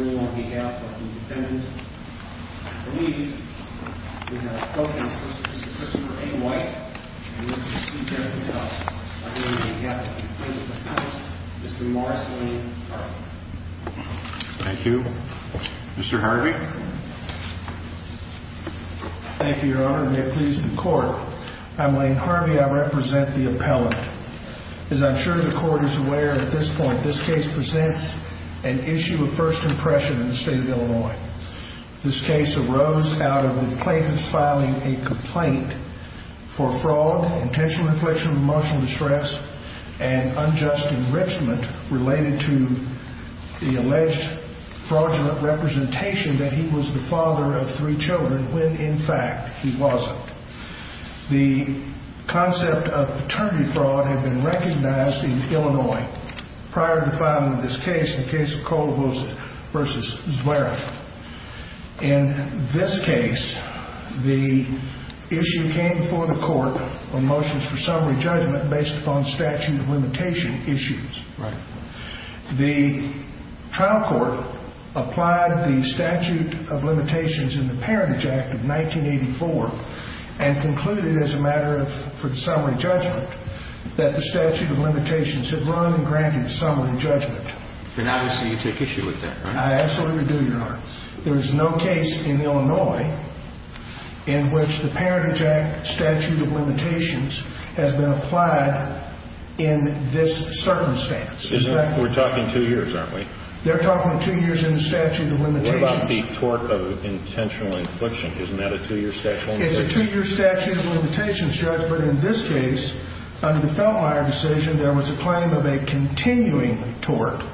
on behalf of the defendants and police. We have with us Mr. Christopher A. White and Mr. C. Jeffery Dust on behalf of the plaintiff's defense, Mr. Morris Lane Carlin. Thank you. Mr. Harvey? Thank you, your honor. May it please the court. I'm Lane Harvey. I represent the appellant. As I'm sure the court is aware at this point, this case presents an issue of first impression in the state of Illinois. This case arose out of the plaintiff's filing a complaint for fraud, intentional infliction of emotional distress, and unjust enrichment related to the defendant's death. In this case, the plaintiff's attorney, Mr. Christopher A. White, was the father of three children when in fact he wasn't. The concept of paternity fraud had been recognized in Illinois prior to filing this case, the case of Cole vs. Zwerin. In this case, the issue came before the court on motions for summary judgment based upon statute of limitation issues. The trial court applied the statute of limitations in the Parentage Act of 1984 and concluded as a matter for summary judgment that the statute of limitations had run and granted summary judgment. And obviously you take issue with that, right? I absolutely do, your honor. There is no case in Illinois in which the Parentage Act statute of limitations has been applied in this circumstance. We're talking two years, aren't we? They're talking two years in the statute of limitations. What about the tort of intentional infliction? Isn't that a two-year statute of limitations? No, no. My point about the continuing tort was that after, after the trial was concluded, there was a claim of a continuing tort.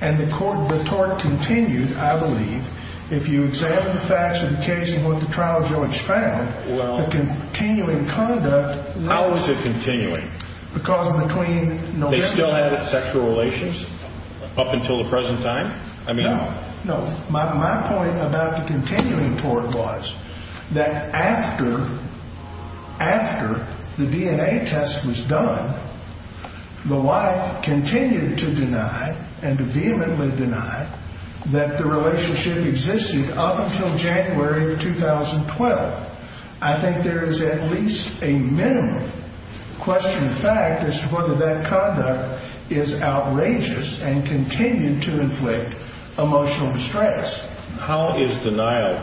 And the court, the tort continued, I believe, if you examine the facts of the case and what the trial judge found, the continuing conduct was not continuing. They still had sexual relations up until the present time? No, no. My point about the continuing tort was that after, after the DNA test was done, the wife continued to deny and vehemently deny that the relationship existed up until January of 2012. I think there is at least a minimum question of fact as to whether that conduct is outrageous and continued to inflict emotional distress. How is denial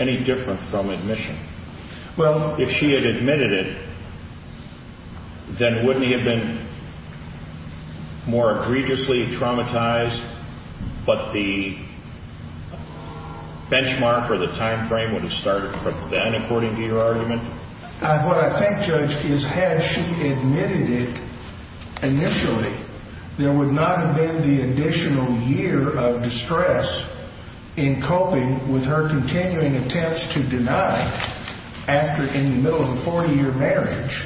any different from admission? Well, if she had admitted it, then wouldn't he have been more egregiously traumatized, but the benchmark or the timeframe would have started from then, according to your argument? What I think, Judge, is had she admitted it initially, there would not have been the additional year of distress in coping with her continuing attempts to deny after, in the middle of a 40-year marriage,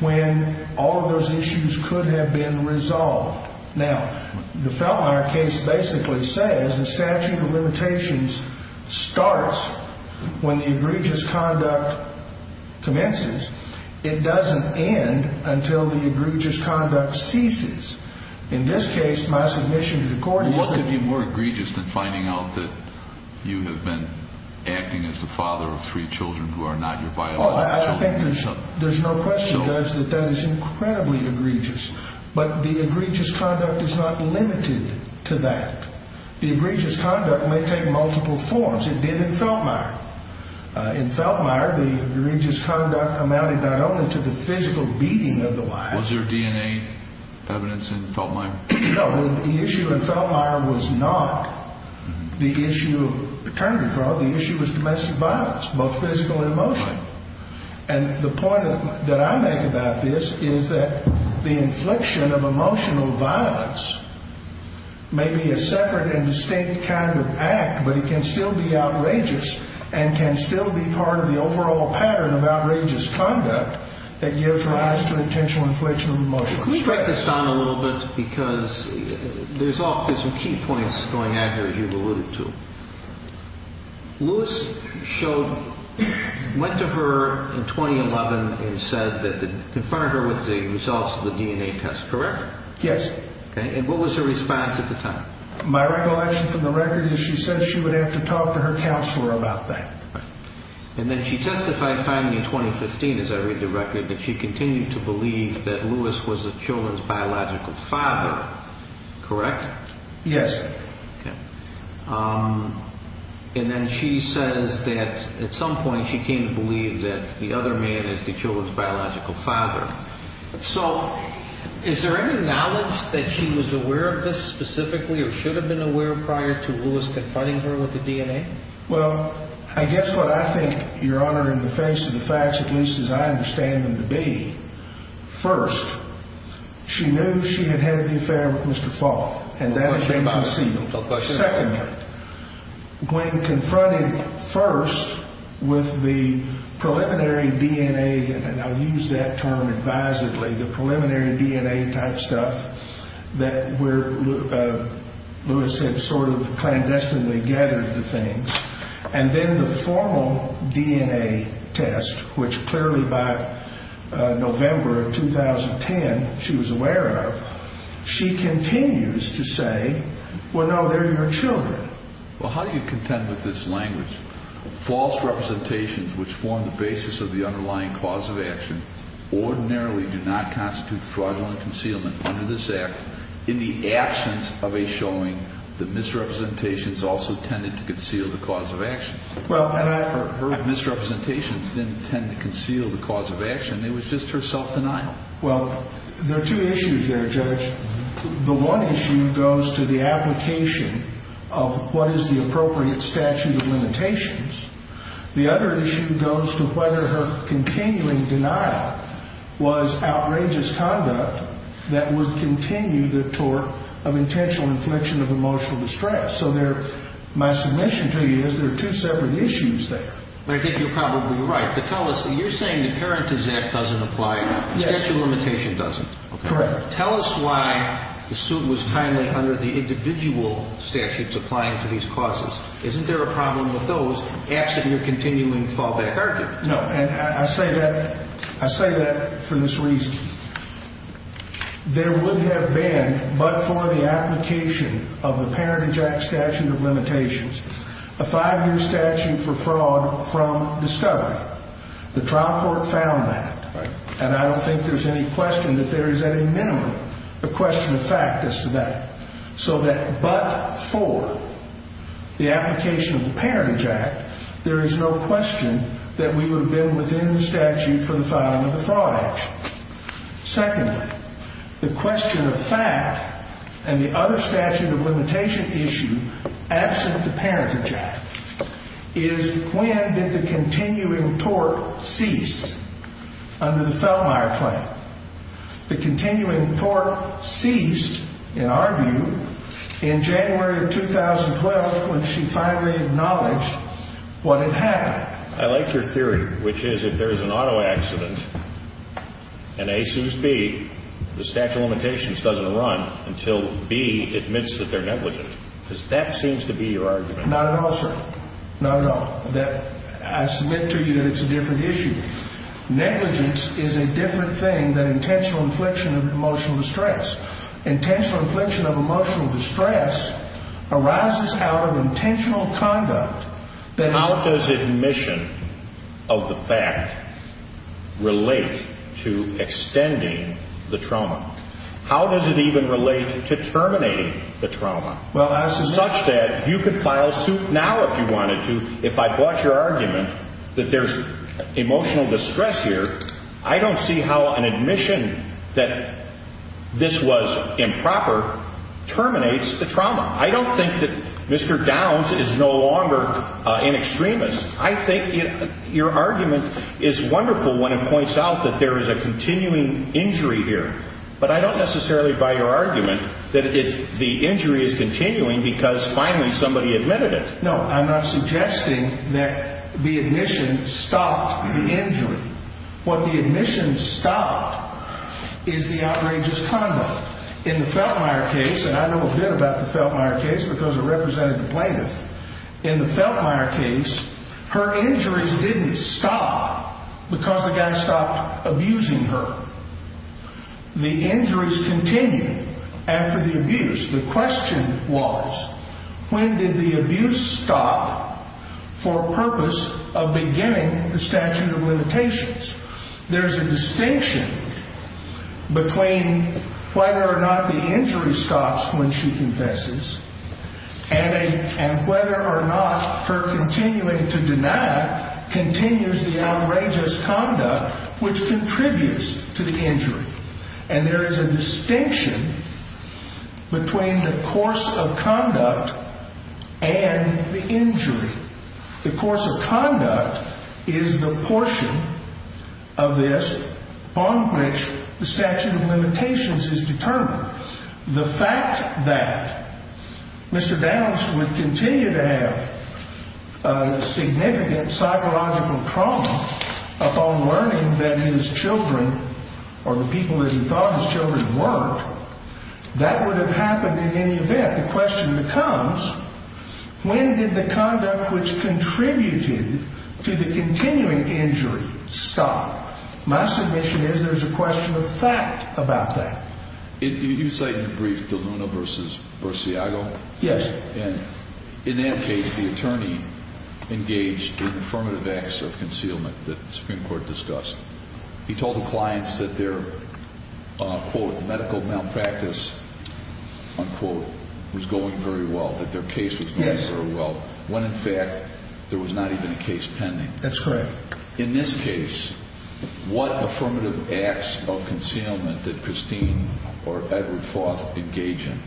when all of those issues could have been resolved. Now, the Feltmire case basically says the statute of limitations starts when the egregious conduct commences. It doesn't end until the egregious conduct ceases. In this case, my submission to the court is that... ...the egregious conduct is not limited to that. The egregious conduct may take multiple forms. It did in Feltmire. In Feltmire, the egregious conduct amounted not only to the physical beating of the wife... Was there DNA evidence in Feltmire? No. The issue in Feltmire was not the issue of paternity fraud. The issue was domestic violence, both physical and emotional. And the point that I make about this is that the infliction of emotional violence may be a separate and distinct kind of act, but it can still be outrageous and can still be part of the overall pattern of outrageous conduct that gives rise to intentional infliction of emotional distress. Let me strike this down a little bit, because there's some key points going at her, as you've alluded to. Lewis went to her in 2011 and said that they confronted her with the results of the DNA test, correct? Yes. And what was her response at the time? My recollection from the record is she said she would have to talk to her counselor about that. And then she testified finally in 2015, as I read the record, that she continued to believe that Lewis was the children's biological father, correct? Yes. Okay. And then she says that at some point she came to believe that the other man is the children's biological father. So is there any knowledge that she was aware of this specifically or should have been aware prior to Lewis confronting her with the DNA? Well, I guess what I think, Your Honor, in the face of the facts, at least as I understand them to be, first, she knew she had had the affair with Mr. Foth, and that had been concealed. Secondly, when confronted first with the preliminary DNA, and I'll use that term advisedly, the preliminary DNA type stuff that Lewis had sort of clandestinely gathered the things, and then the formal DNA test, which clearly by November of 2010 she was aware of, she continues to say, well, no, they're your children. Well, how do you contend with this language? False representations which form the basis of the underlying cause of action ordinarily do not constitute fraudulent concealment under this act in the absence of a showing that misrepresentations also tended to conceal the cause of action. Her misrepresentations didn't tend to conceal the cause of action. It was just her self-denial. Well, there are two issues there, Judge. The one issue goes to the application of what is the appropriate statute of limitations. The other issue goes to whether her continuing denial was outrageous conduct that would continue the tort of intentional infliction of emotional distress. So my submission to you is there are two separate issues there. I think you're probably right, but tell us, you're saying the Parentage Act doesn't apply, statute of limitations doesn't. Correct. Tell us why the suit was timely under the individual statutes applying to these causes. Isn't there a problem with those absent your continuing fallback argument? No, and I say that for this reason. There would have been, but for the application of the Parentage Act statute of limitations, a five-year statute for fraud from discovery. The trial court found that. Right. And I don't think there's any question that there is any minimum, a question of fact as to that. So that but for the application of the Parentage Act, there is no question that we would have been within the statute for the filing of the fraud action. Secondly, the question of fact and the other statute of limitation issue absent the Parentage Act is when did the continuing tort cease under the Fellmire claim? The continuing tort ceased, in our view, in January of 2012 when she finally acknowledged what had happened. I like your theory, which is if there is an auto accident and A suits B, the statute of limitations doesn't run until B admits that they're negligent. Because that seems to be your argument. Not at all, sir. Not at all. I submit to you that it's a different issue. Negligence is a different thing than intentional infliction of emotional distress. Intentional infliction of emotional distress arises out of intentional conduct. How does admission of the fact relate to extending the trauma? How does it even relate to terminating the trauma? Such that you could file suit now if you wanted to if I brought your argument that there's emotional distress here. I don't see how an admission that this was improper terminates the trauma. I don't think that Mr. Downs is no longer an extremist. I think your argument is wonderful when it points out that there is a continuing injury here. But I don't necessarily buy your argument that the injury is continuing because finally somebody admitted it. No, I'm not suggesting that the admission stopped the injury. What the admission stopped is the outrageous conduct. In the Feltmire case, and I know a bit about the Feltmire case because I represented the plaintiff. In the Feltmire case, her injuries didn't stop because the guy stopped abusing her. The injuries continued after the abuse. The question was when did the abuse stop for purpose of beginning the statute of limitations? There's a distinction between whether or not the injury stops when she confesses. And whether or not her continuing to deny continues the outrageous conduct which contributes to the injury. And there is a distinction between the course of conduct and the injury. The course of conduct is the portion of this on which the statute of limitations is determined. The fact that Mr. Downs would continue to have significant psychological trauma upon learning that his children or the people that he thought his children weren't, that would have happened in any event. The question becomes when did the conduct which contributed to the continuing injury stop? My submission is there's a question of fact about that. You cite in your brief DeLuna versus Barsiago? Yes. And in that case, the attorney engaged in affirmative acts of concealment that the Supreme Court discussed. He told the clients that their, quote, medical malpractice, unquote, was going very well, that their case was going very well. Yes. When, in fact, there was not even a case pending. That's correct. In this case, what affirmative acts of concealment did Christine or Edward Foth engage in?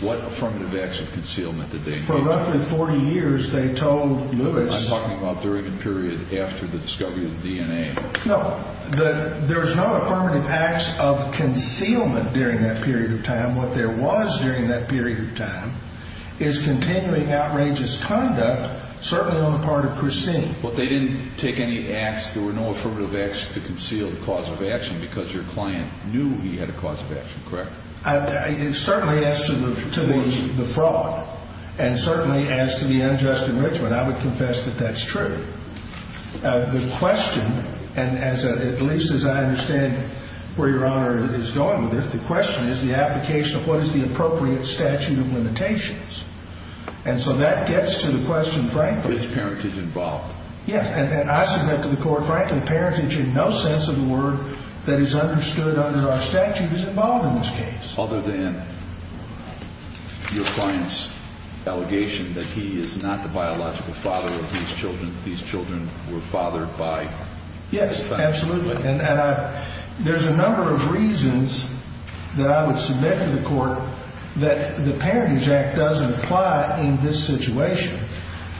What affirmative acts of concealment did they engage in? For roughly 40 years, they told Lewis. I'm talking about during the period after the discovery of DNA. No. There's no affirmative acts of concealment during that period of time. What there was during that period of time is continuing outrageous conduct, certainly on the part of Christine. But they didn't take any acts, there were no affirmative acts to conceal the cause of action because your client knew he had a cause of action, correct? It certainly adds to the fraud and certainly adds to the unjust enrichment. I would confess that that's true. The question, and at least as I understand where Your Honor is going with this, the question is the application of what is the appropriate statute of limitations. And so that gets to the question, frankly. Is parentage involved? Yes. And I submit to the Court, frankly, parentage in no sense of the word that is understood under our statute is involved in this case. Other than your client's allegation that he is not the biological father of these children, these children were fathered by? Yes, absolutely. And there's a number of reasons that I would submit to the Court that the Parentage Act doesn't apply in this situation.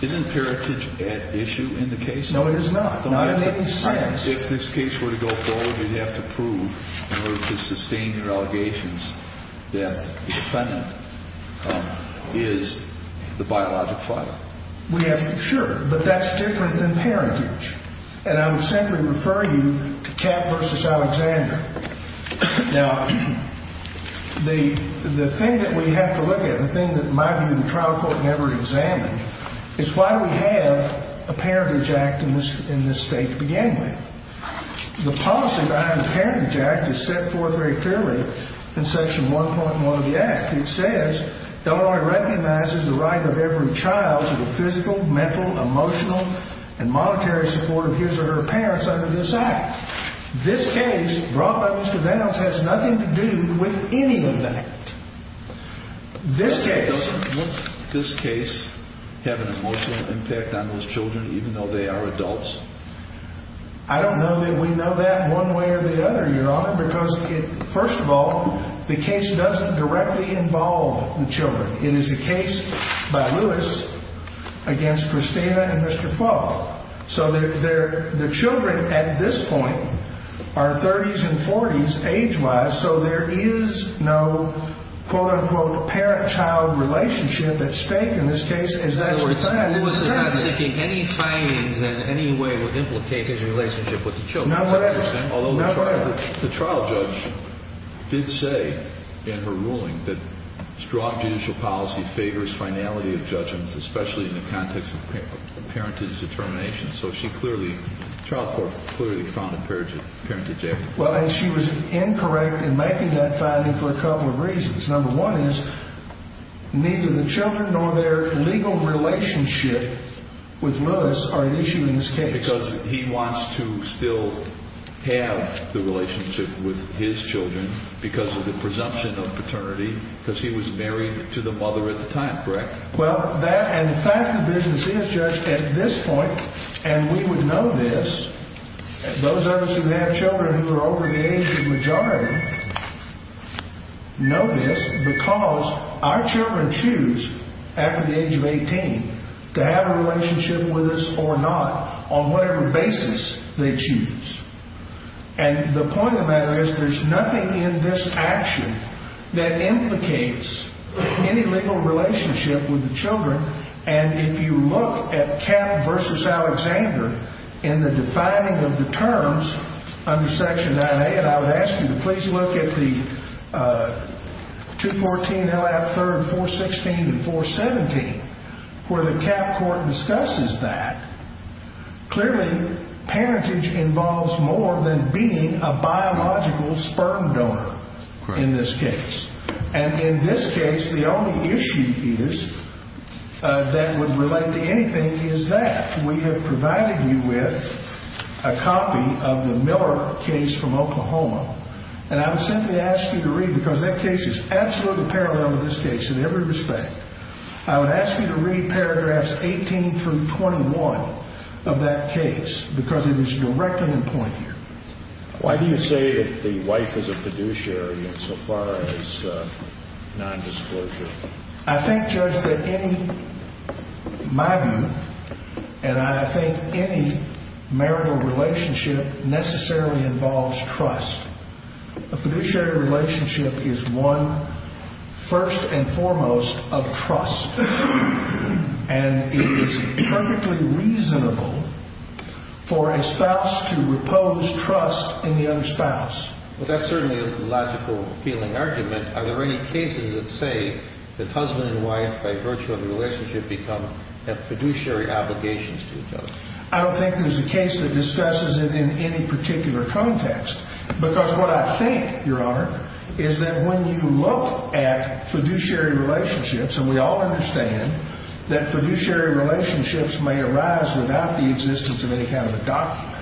Isn't parentage at issue in the case? No, it is not. Not in any sense. If this case were to go forward, you'd have to prove in order to sustain your allegations that the defendant is the biological father. Sure, but that's different than parentage. And I would simply refer you to Capp v. Alexander. Now, the thing that we have to look at, the thing that, in my view, the trial court never examined, is why do we have a Parentage Act in this State to begin with? The policy behind the Parentage Act is set forth very clearly in Section 1.1 of the Act. It says the law recognizes the right of every child to the physical, mental, emotional, and monetary support of his or her parents under this Act. This case, brought by Mr. Reynolds, has nothing to do with any of that. Doesn't this case have an emotional impact on those children, even though they are adults? I don't know that we know that one way or the other, Your Honor, because, first of all, the case doesn't directly involve the children. It is a case by Lewis against Christina and Mr. Fulff. So the children, at this point, are 30s and 40s age-wise, so there is no, quote, unquote, parent-child relationship at stake in this case. In other words, Lewis is not seeking any findings in any way that would implicate his relationship with the children. Not whatever. Although the trial judge did say in her ruling that strong judicial policy favors finality of judgments, especially in the context of parentage determination. So she clearly, the trial court clearly found a parentage argument. Well, and she was incorrect in making that finding for a couple of reasons. Number one is neither the children nor their legal relationship with Lewis are an issue in this case. Because he wants to still have the relationship with his children because of the presumption of paternity, because he was married to the mother at the time, correct? Well, that and the fact of the business is, Judge, at this point, and we would know this, those of us who have children who are over the age of majority know this because our children choose, after the age of 18, to have a relationship with us or not on whatever basis they choose. And the point of that is there's nothing in this action that implicates any legal relationship with the children. And if you look at Kapp v. Alexander in the defining of the terms under Section 9A, and I would ask you to please look at the 214 L.F. 3rd, 416, and 417, where the Kapp court discusses that. Clearly, parentage involves more than being a biological sperm donor in this case. And in this case, the only issue that would relate to anything is that. We have provided you with a copy of the Miller case from Oklahoma. And I would simply ask you to read, because that case is absolutely parallel to this case in every respect, I would ask you to read paragraphs 18 through 21 of that case because it is directly in point here. Why do you say the wife is a fiduciary in so far as nondisclosure? I think, Judge, that any, in my view, and I think any marital relationship necessarily involves trust. A fiduciary relationship is one, first and foremost, of trust. And it is perfectly reasonable for a spouse to repose trust in the other spouse. Well, that's certainly a logical feeling argument. Are there any cases that say that husband and wife, by virtue of the relationship, become fiduciary obligations to each other? I don't think there's a case that discusses it in any particular context. Because what I think, Your Honor, is that when you look at fiduciary relationships, and we all understand that fiduciary relationships may arise without the existence of any kind of a document,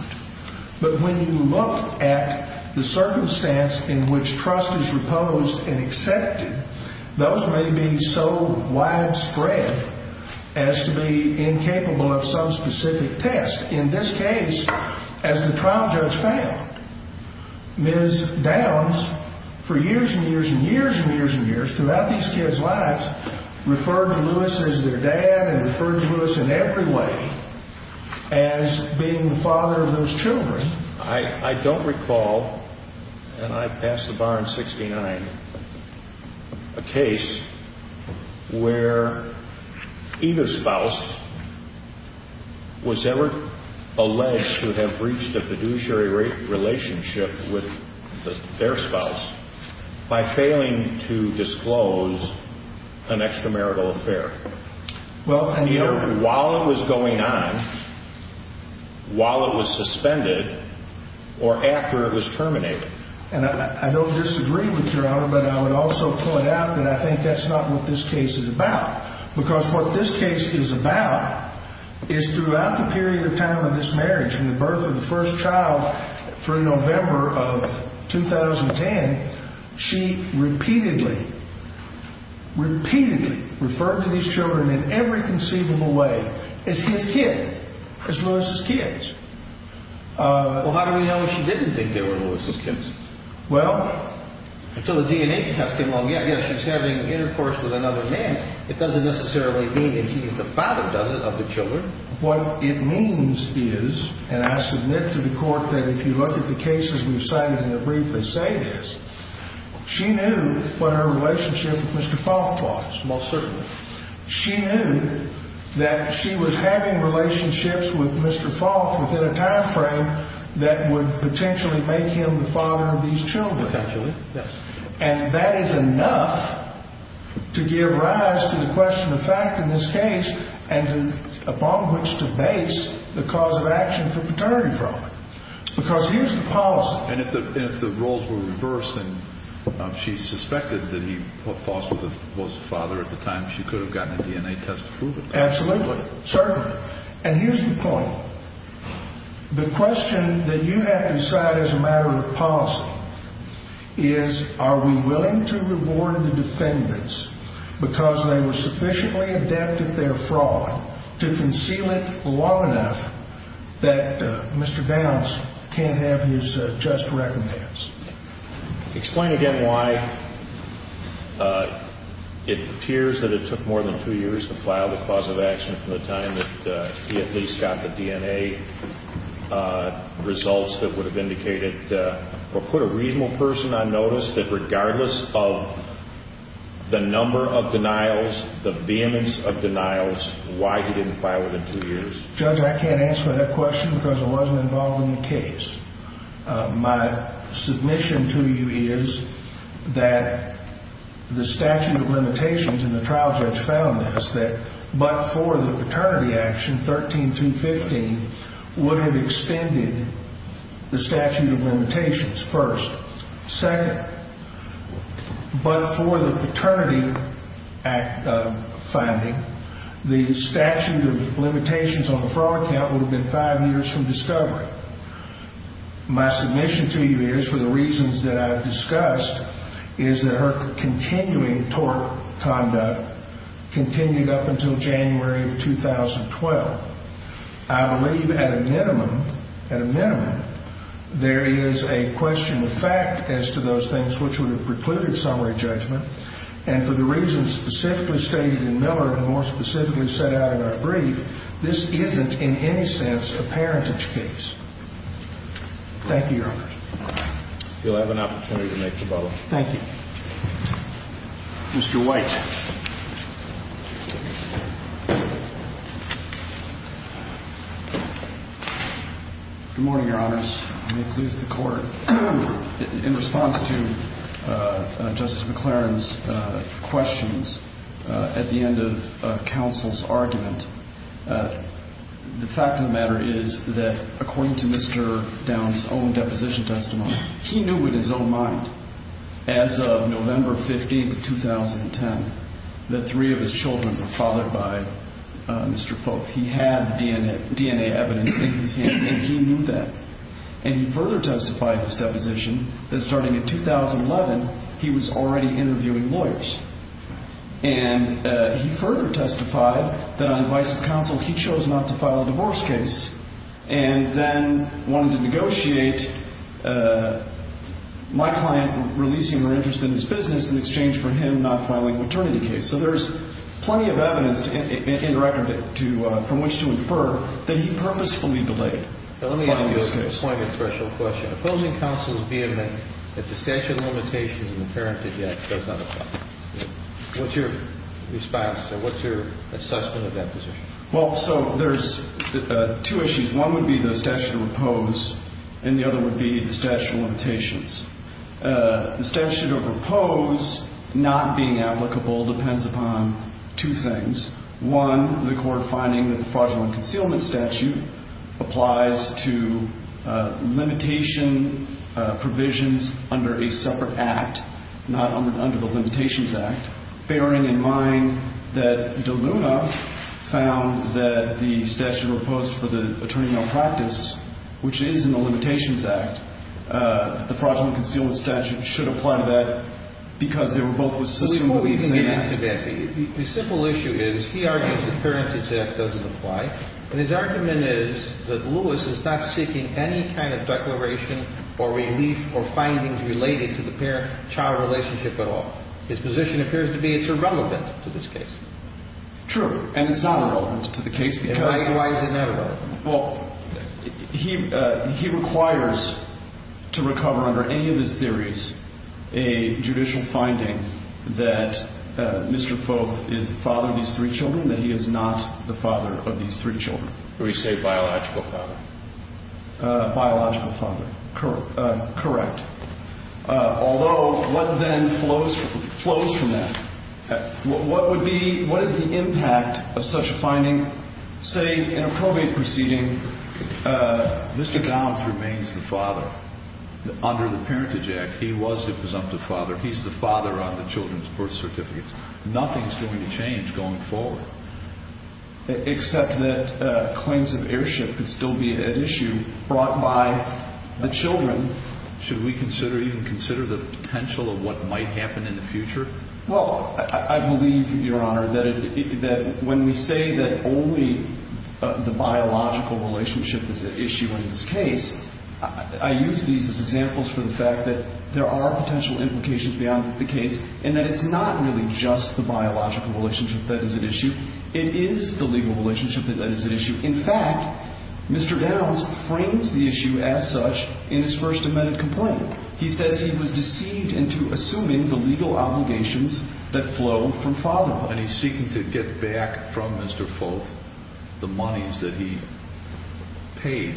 but when you look at the circumstance in which trust is reposed and accepted, those may be so widespread as to be incapable of some specific test. In this case, as the trial judge found, Ms. Downs, for years and years and years and years and years, throughout these kids' lives, referred to Lewis as their dad and referred to Lewis in every way as being the father of those children. I don't recall, and I passed the bar in 69, a case where either spouse was ever alleged to have breached a fiduciary relationship with their spouse by failing to disclose an extramarital affair. Either while it was going on, while it was suspended, or after it was terminated. And I don't disagree with Your Honor, but I would also point out that I think that's not what this case is about. Because what this case is about is throughout the period of time of this marriage, from the birth of the first child through November of 2010, she repeatedly, repeatedly referred to these children in every conceivable way as his kids, as Lewis' kids. Well, how do we know she didn't think they were Lewis' kids? Well, until the DNA test came along. Yeah, yeah, she's having intercourse with another man. It doesn't necessarily mean that he's the father, does it, of the children? What it means is, and I submit to the Court that if you look at the cases we've cited in the brief that say this, she knew what her relationship with Mr. Foth was. Well, certainly. She knew that she was having relationships with Mr. Foth within a time frame that would potentially make him the father of these children. Potentially, yes. And that is enough to give rise to the question of fact in this case, and upon which to base the cause of action for paternity fraud. Because here's the policy. And if the roles were reversed, then she suspected that he was the father at the time she could have gotten a DNA test to prove it. Absolutely, certainly. And here's the point. The question that you have to decide as a matter of policy is, are we willing to reward the defendants because they were sufficiently adept at their fraud to conceal it long enough that Mr. Downs can't have his just recommends? Explain again why it appears that it took more than two years to file the cause of action from the time that he at least got the DNA results that would have indicated or put a reasonable person on notice that regardless of the number of denials, the vehemence of denials, why he didn't file it in two years? Judge, I can't answer that question because I wasn't involved in the case. My submission to you is that the statute of limitations, and the trial judge found this, that but for the paternity action, 13215 would have extended the statute of limitations first. Second, but for the paternity finding, the statute of limitations on the fraud count would have been five years from discovery. My submission to you is, for the reasons that I've discussed, is that her continuing tort conduct continued up until January of 2012. I believe at a minimum, at a minimum, there is a question of fact as to those things which would have precluded summary judgment. And for the reasons specifically stated in Miller and more specifically set out in our brief, this isn't in any sense a parentage case. Thank you, Your Honor. You'll have an opportunity to make the follow-up. Thank you. Mr. White. Good morning, Your Honors. May it please the Court. In response to Justice McLaren's questions at the end of counsel's argument, the fact of the matter is that according to Mr. Downs' own deposition testimony, he knew in his own mind as of November 15th of 2010 that three of his children were fathered by Mr. Foth. He had the DNA evidence in his hands, and he knew that. And he further testified in his deposition that starting in 2011, he was already interviewing lawyers. And he further testified that on advice of counsel, he chose not to file a divorce case and then wanted to negotiate my client releasing her interest in his business in exchange for him not filing a maternity case. So there's plenty of evidence in the record from which to infer that he purposefully delayed filing this case. Let me ask you a point of special question. Opposing counsel's vehement that the statute of limitations in the parentage act does not apply. What's your response? What's your assessment of that position? Well, so there's two issues. One would be the statute of repose, and the other would be the statute of limitations. The statute of repose not being applicable depends upon two things. One, the court finding that the fraudulent concealment statute applies to limitation provisions under a separate act, not under the limitations act, bearing in mind that De Luna found that the statute of repose for the attorney malpractice, which is in the limitations act, the fraudulent concealment statute should apply to that because they were both with the same act. The simple issue is he argues the parentage act doesn't apply. And his argument is that Lewis is not seeking any kind of declaration or relief or findings related to the parent-child relationship at all. His position appears to be it's irrelevant to this case. True. And it's not relevant to the case because why is it not relevant? Well, he requires to recover under any of his theories a judicial finding that Mr. Foth is the father of these three children, that he is not the father of these three children. We say biological father. Biological father, correct. Although, what then flows from that? What would be, what is the impact of such a finding? Say in a probate proceeding, Mr. Downs remains the father under the parentage act. He was the presumptive father. He's the father on the children's birth certificates. Nothing's going to change going forward. Except that claims of heirship could still be at issue brought by the children. Should we consider, even consider the potential of what might happen in the future? Well, I believe, Your Honor, that when we say that only the biological relationship is at issue in this case, I use these as examples for the fact that there are potential implications beyond the case and that it's not really just the biological relationship that is at issue. It is the legal relationship that is at issue. In fact, Mr. Downs frames the issue as such in his first amended complaint. He says he was deceived into assuming the legal obligations that flow from fatherhood. And he's seeking to get back from Mr. Foth the monies that he paid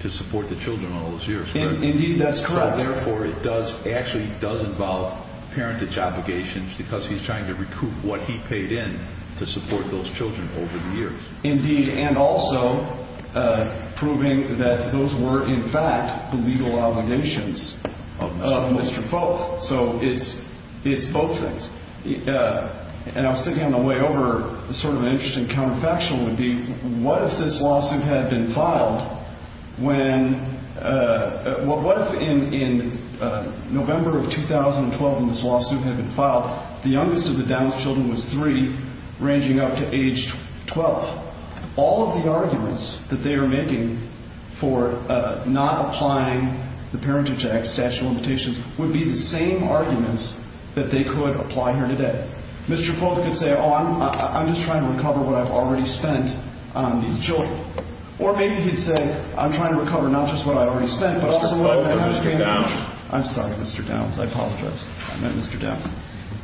to support the children all those years. Indeed, that's correct. Therefore, it does, actually does involve parentage obligations because he's trying to recoup what he paid in to support those children over the years. Indeed, and also proving that those were, in fact, the legal obligations of Mr. Foth. So it's both things. And I was thinking on the way over, sort of an interesting counterfactual would be, what if this lawsuit had been filed when, what if in November of 2012 when this lawsuit had been filed, the youngest of the Downs children was three, ranging up to age 12? All of the arguments that they are making for not applying the Parentage Act, statute of limitations, would be the same arguments that they could apply here today. Mr. Foth could say, oh, I'm just trying to recover what I've already spent on these children. Or maybe he'd say, I'm trying to recover not just what I already spent, but also what I have in the future. Mr. Foth or Mr. Downs? I'm sorry, Mr. Downs. I apologize. I meant Mr. Downs.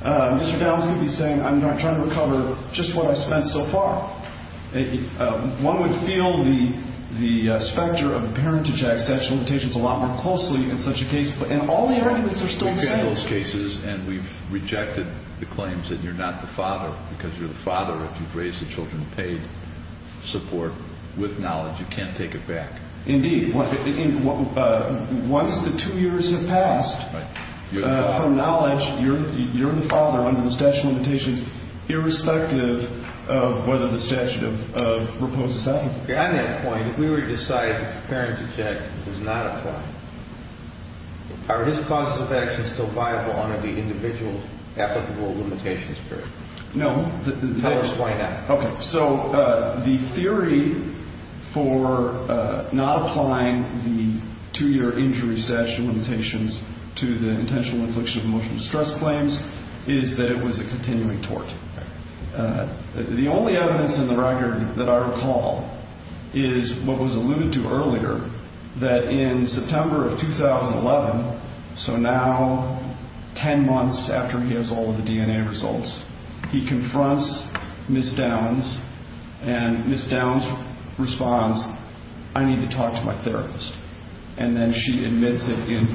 Mr. Downs could be saying, I'm trying to recover just what I've spent so far. One would feel the specter of the Parentage Act, statute of limitations, a lot more closely in such a case. And all the arguments are still the same. We've had those cases, and we've rejected the claims that you're not the father, because you're the father if you've raised the children in paid support with knowledge. You can't take it back. Indeed. Once the two years have passed, from knowledge, you're the father under the statute of limitations, irrespective of whether the statute of repose is active. On that point, if we were to decide that the Parentage Act does not apply, are his causes of action still viable under the individual applicable limitations period? No. Tell us why not. Okay. So the theory for not applying the two-year injury statute of limitations to the intentional infliction of emotional distress claims is that it was a continuing tort. The only evidence in the record that I recall is what was alluded to earlier, that in September of 2011, so now 10 months after he has all of the DNA results, he confronts Ms. Downs, and Ms. Downs responds, I need to talk to my therapist, and then she admits it in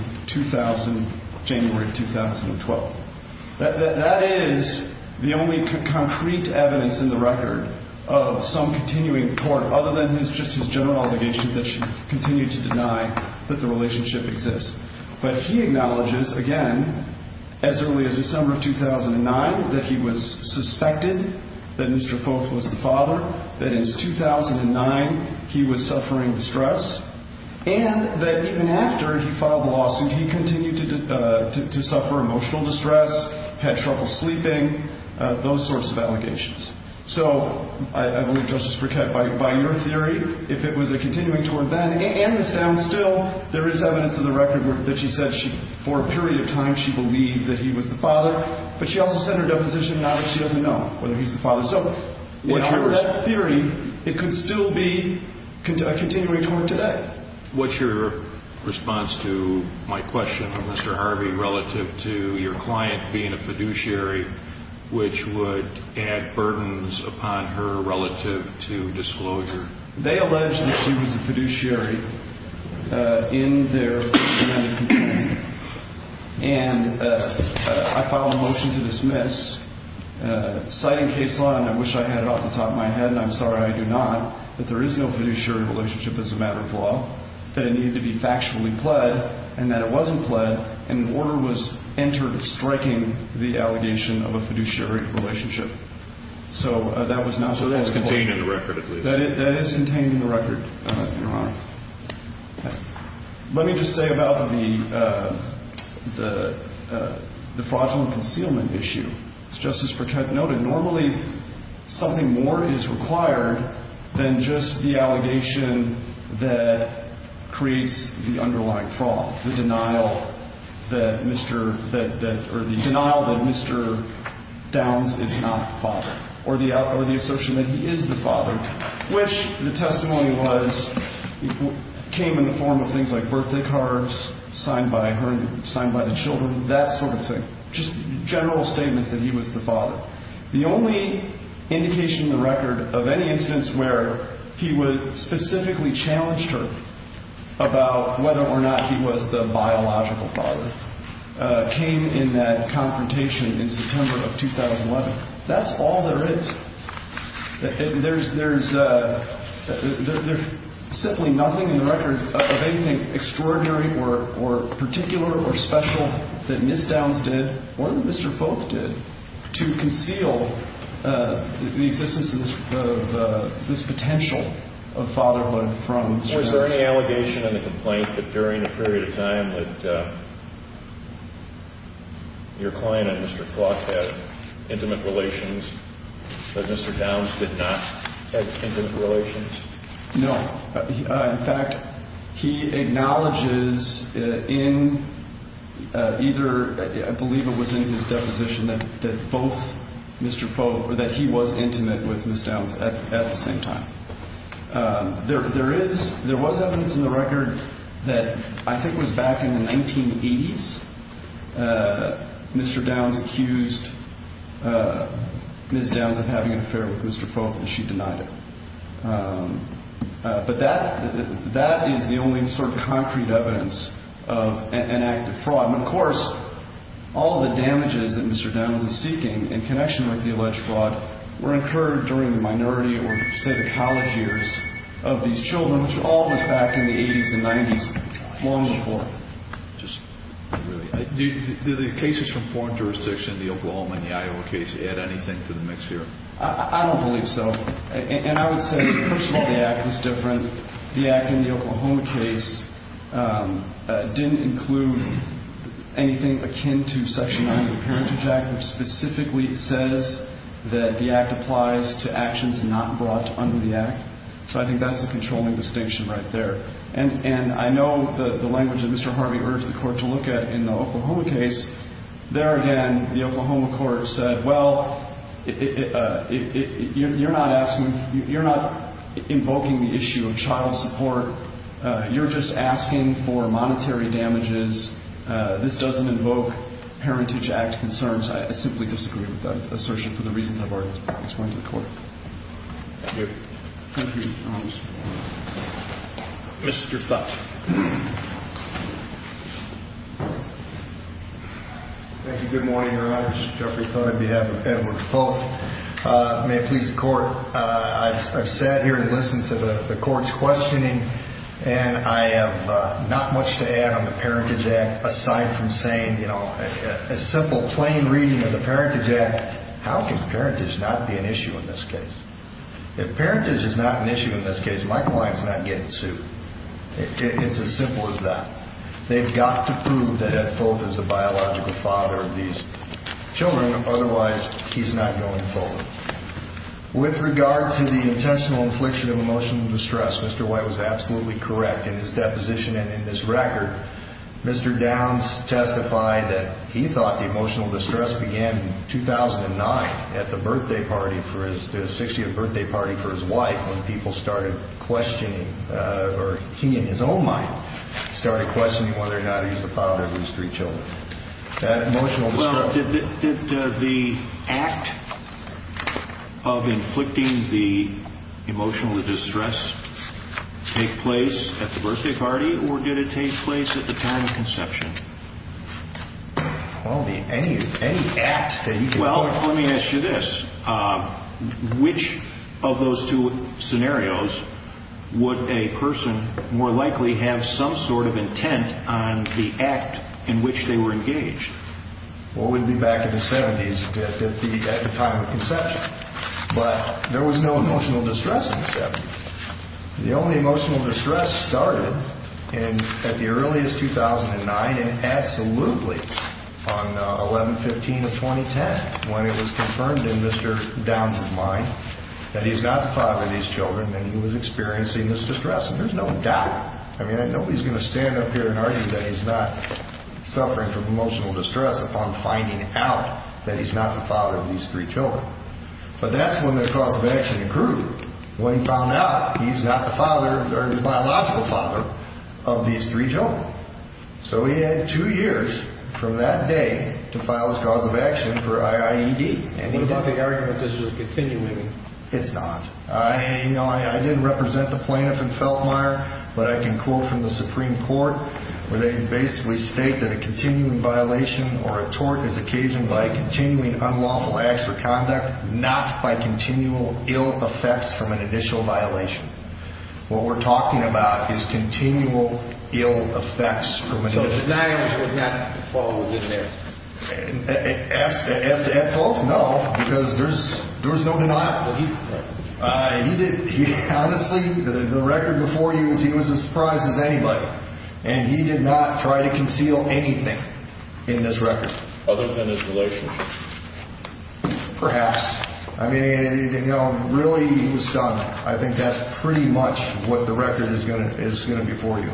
January of 2012. That is the only concrete evidence in the record of some continuing tort, other than just his general obligation that she continue to deny that the relationship exists. But he acknowledges, again, as early as December of 2009, that he was suspected that Mr. Foth was the father, that in 2009 he was suffering distress, and that even after he filed the lawsuit, he continued to suffer emotional distress, had trouble sleeping, those sorts of allegations. So I believe, Justice Briquette, by your theory, if it was a continuing tort then, and Ms. Downs still, there is evidence in the record that she said for a period of time she believed that he was the father, but she also said in her deposition that she doesn't know whether he's the father. So in that theory, it could still be a continuing tort today. What's your response to my question of Mr. Harvey relative to your client being a fiduciary which would add burdens upon her relative to disclosure? They allege that she was a fiduciary in their continuing. And I filed a motion to dismiss, citing case law, and I wish I had it off the top of my head, and I'm sorry I do not, that there is no fiduciary relationship as a matter of law, that it needed to be factually pled, and that it wasn't pled, and the order was entered striking the allegation of a fiduciary relationship. So that is contained in the record, at least. That is contained in the record, Your Honor. Let me just say about the fraudulent concealment issue. As Justice Pratt noted, normally something more is required than just the allegation that creates the underlying fraud, the denial that Mr. or the denial that Mr. Downs is not the father, or the assertion that he is the father, which the testimony was came in the form of things like birthday cards signed by her and signed by the children, that sort of thing, just general statements that he was the father. The only indication in the record of any instance where he would specifically challenge her about whether or not he was the biological father came in that confrontation in September of 2011. That's all there is. There's simply nothing in the record of anything extraordinary or particular or special that Ms. Downs did or that Mr. Foth did to conceal the existence of this potential of fatherhood from Mr. Downs. Is there any allegation in the complaint that during a period of time that your client and Mr. Foth had intimate relations, but Mr. Downs did not have intimate relations? No. In fact, he acknowledges in either I believe it was in his deposition that both Mr. Foth or that he was intimate with Ms. Downs at the same time. There was evidence in the record that I think was back in the 1980s. Mr. Downs accused Ms. Downs of having an affair with Mr. Foth, and she denied it. But that is the only sort of concrete evidence of an act of fraud. And, of course, all the damages that Mr. Downs was seeking in connection with the alleged fraud were incurred during the minority or, say, the college years of these children, which all was back in the 80s and 90s long before. Do the cases from foreign jurisdictions, the Oklahoma and the Iowa case, add anything to the mix here? I don't believe so. And I would say, first of all, the act is different. The act in the Oklahoma case didn't include anything akin to Section 90 of the Parentage Act, which specifically says that the act applies to actions not brought under the act. So I think that's the controlling distinction right there. And I know the language that Mr. Harvey urged the court to look at in the Oklahoma case. There again, the Oklahoma court said, well, you're not asking ñ you're not invoking the issue of child support. You're just asking for monetary damages. This doesn't invoke Parentage Act concerns. I simply disagree with that assertion for the reasons I've already explained to the court. Thank you. Thank you, Your Honor. Mr. Thott. Thank you. Good morning, Your Honor. This is Jeffrey Thott on behalf of Edward Thoth. May it please the court, I've sat here and listened to the court's questioning, and I have not much to add on the Parentage Act aside from saying, you know, a simple plain reading of the Parentage Act. How can parentage not be an issue in this case? If parentage is not an issue in this case, my client's not getting sued. It's as simple as that. They've got to prove that Ed Thoth is the biological father of these children. Otherwise, he's not going forward. With regard to the intentional infliction of emotional distress, Mr. White was absolutely correct in his deposition and in this record. Mr. Downs testified that he thought the emotional distress began in 2009 at the 60th birthday party for his wife when people started questioning, or he in his own mind started questioning whether or not he was the father of these three children. That emotional distress. Well, did the act of inflicting the emotional distress take place at the birthday party, or did it take place at the time of conception? Well, any act that you can think of. Well, let me ask you this. Which of those two scenarios would a person more likely have some sort of intent on the act in which they were engaged? Well, it would be back in the 70s at the time of conception. But there was no emotional distress in the 70s. The only emotional distress started at the earliest 2009 and absolutely on 11-15 of 2010 when it was confirmed in Mr. Downs' mind that he's not the father of these children and he was experiencing this distress. And there's no doubt. I mean, nobody's going to stand up here and argue that he's not suffering from emotional distress upon finding out that he's not the father of these three children. But that's when the cause of action grew. When he found out he's not the father or his biological father of these three children. So he had two years from that day to file his cause of action for IIED. What about the argument that this was continuing? It's not. You know, I didn't represent the plaintiff in Feltmire, but I can quote from the Supreme Court where they basically state that a continuing violation or a tort is occasioned by continuing unlawful acts or conduct, not by continual ill effects from an initial violation. What we're talking about is continual ill effects from an initial violation. So denying was not what was in there? As to Feltmire? No. Because there's no denial. Honestly, the record before you is he was as surprised as anybody. And he did not try to conceal anything in this record. Other than his relationship? Perhaps. I mean, you know, really he was stunned. I think that's pretty much what the record is going to be for you.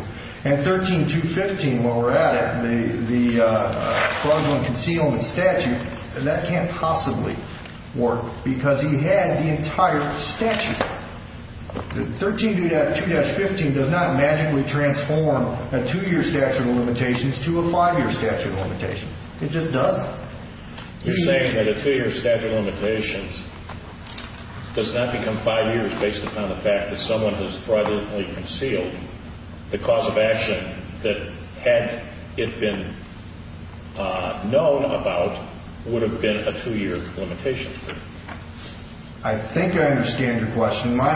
And 13215, while we're at it, the fraudulent concealment statute, that can't possibly work because he had the entire statute. 13215 does not magically transform a two-year statute of limitations to a five-year statute of limitations. It just doesn't. You're saying that a two-year statute of limitations does not become five years based upon the fact that someone has fraudulently concealed. The cause of action that had it been known about would have been a two-year limitation. I think I understand your question. What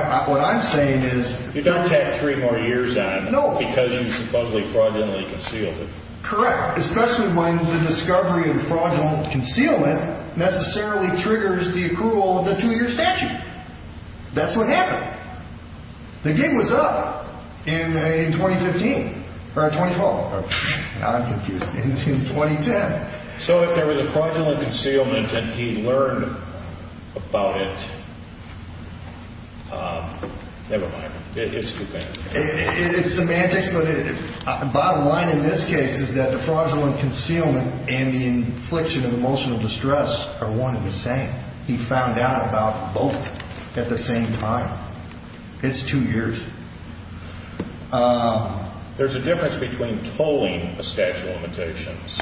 I'm saying is... You don't have three more years on him because he supposedly fraudulently concealed it. Correct. Especially when the discovery of the fraudulent concealment necessarily triggers the approval of the two-year statute. That's what happened. The game was up in 2015. Or 2012. I'm confused. In 2010. So if there was a fraudulent concealment and he learned about it... Never mind. It's semantics. It's semantics, but the bottom line in this case is that the fraudulent concealment and the infliction of emotional distress are one and the same. He found out about both at the same time. It's two years. There's a difference between tolling a statute of limitations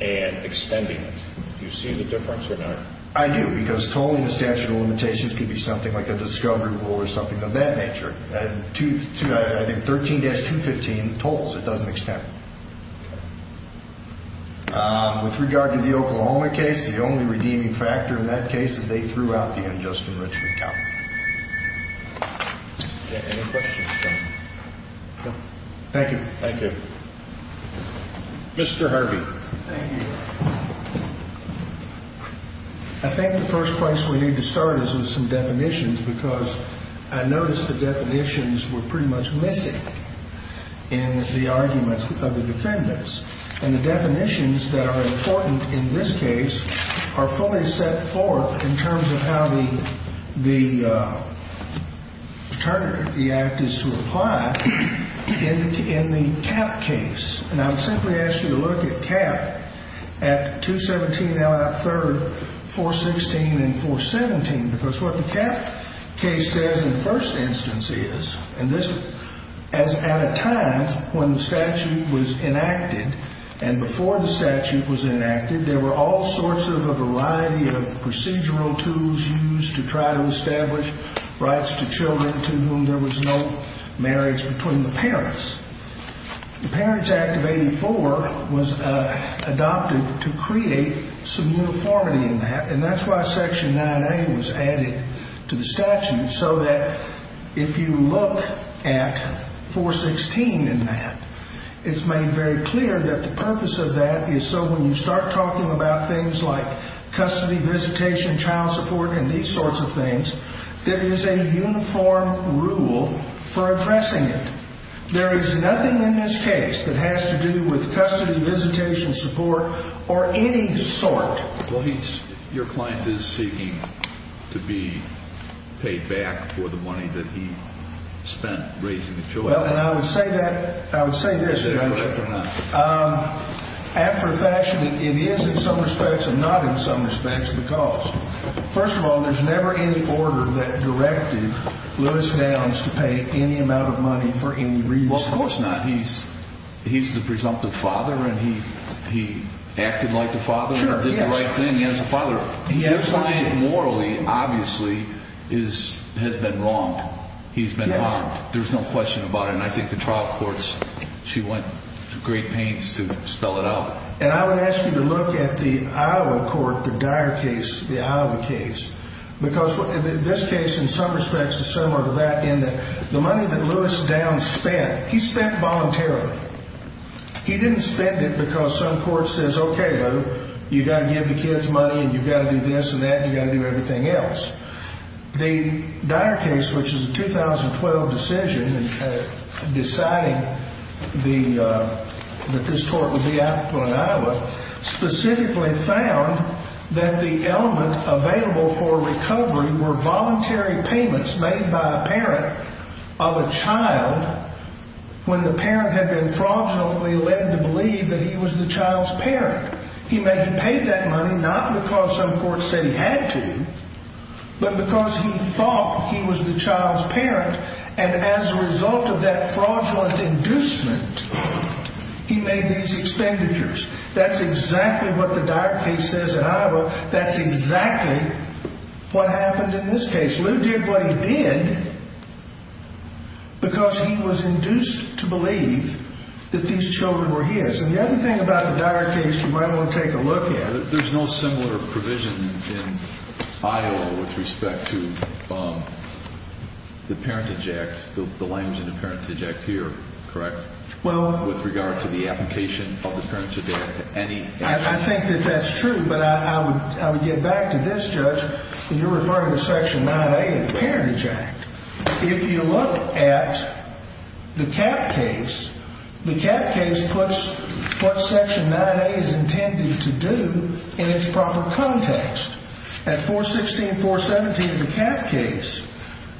and extending it. Do you see the difference or not? I do because tolling a statute of limitations could be something like a discovery rule or something of that nature. I think 13-215 tolls. It doesn't extend. With regard to the Oklahoma case, the only redeeming factor in that case is they threw out the unjust enrichment count. Any questions? No. Thank you. Thank you. Mr. Harvey. Thank you. I think the first place we need to start is with some definitions because I noticed the definitions were pretty much missing in the arguments. And the definitions that are important in this case are fully set forth in terms of how the act is to apply in the Cap case. And I would simply ask you to look at Cap at 217 Allot 3rd, 416, and 417 because what the Cap case says in the first instance is, and this is at a time when the statute was enacted and before the statute was enacted, there were all sorts of a variety of procedural tools used to try to establish rights to children to whom there was no marriage between the parents. The Parents Act of 84 was adopted to create some uniformity in that, and that's why Section 9A was added to the statute so that if you look at 416 in that, it's made very clear that the purpose of that is so when you start talking about things like custody, visitation, child support, and these sorts of things, there is a uniform rule for addressing it. There is nothing in this case that has to do with custody, visitation, support, or any sort. Well, your client is seeking to be paid back for the money that he spent raising the children. Well, and I would say that, I would say this. Is that correct or not? After fashion, it is in some respects and not in some respects because, first of all, there's never any order that directed Louis Downs to pay any amount of money for any reason. Well, of course not. He's the presumptive father, and he acted like the father and did the right thing. He has a father. His client morally, obviously, has been wronged. He's been harmed. There's no question about it, and I think the trial courts, she went to great pains to spell it out. And I would ask you to look at the Iowa court, the Dyer case, the Iowa case, because this case, in some respects, is similar to that in that the money that Louis Downs spent, he spent voluntarily. He didn't spend it because some court says, okay, Lou, you've got to give the kids money, and you've got to do this and that, and you've got to do everything else. The Dyer case, which is a 2012 decision deciding that this court would be applicable in Iowa, specifically found that the element available for recovery were voluntary payments made by a parent of a child when the parent had been fraudulently led to believe that he was the child's parent. He paid that money not because some courts say he had to, but because he thought he was the child's parent, and as a result of that fraudulent inducement, he made these expenditures. That's exactly what the Dyer case says in Iowa. That's exactly what happened in this case. Lou did what he did because he was induced to believe that these children were his. And the other thing about the Dyer case you might want to take a look at. There's no similar provision in Iowa with respect to the Parentage Act, the language in the Parentage Act here, correct? Well – With regard to the application of the Parentage Act to any – I think that that's true, but I would get back to this, Judge, and you're referring to Section 9A of the Parentage Act. If you look at the Kapp case, the Kapp case puts what Section 9A is intended to do in its proper context. At 416 and 417 of the Kapp case,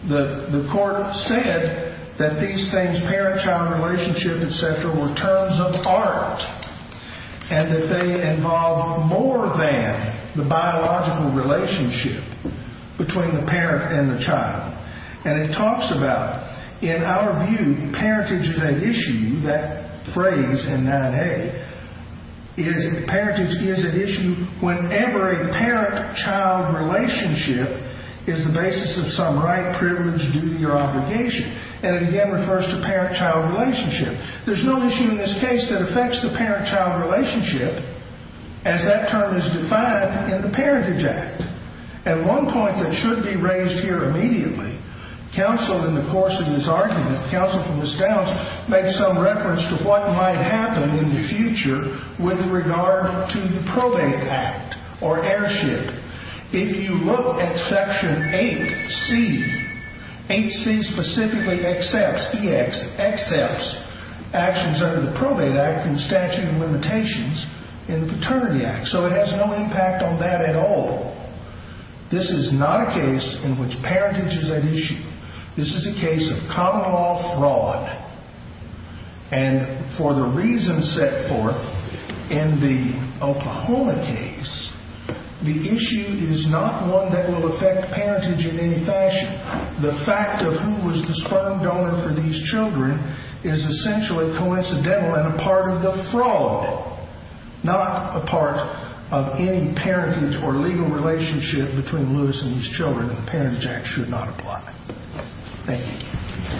the court said that these things, parent-child relationship, etc., were terms of art and that they involve more than the biological relationship between the parent and the child. And it talks about, in our view, parentage is an issue. That phrase in 9A is parentage is an issue whenever a parent-child relationship is the basis of some right, privilege, duty, or obligation. And it again refers to parent-child relationship. There's no issue in this case that affects the parent-child relationship as that term is defined in the Parentage Act. At one point that should be raised here immediately, counsel in the course of this argument, counsel from the stouts, makes some reference to what might happen in the future with regard to the Probate Act or heirship. If you look at Section 8C, 8C specifically accepts, EX, accepts actions under the Probate Act from statute of limitations in the Paternity Act. So it has no impact on that at all. This is not a case in which parentage is at issue. This is a case of common law fraud. And for the reasons set forth in the Oklahoma case, the issue is not one that will affect parentage in any fashion. The fact of who was the sperm donor for these children is essentially coincidental and a part of the fraud, not a part of any parentage or legal relationship between Lewis and his children. And the Parentage Act should not apply. Thank you.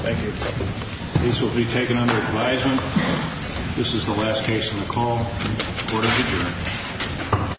Thank you. This will be taken under advisement. This is the last case on the call. Court is adjourned.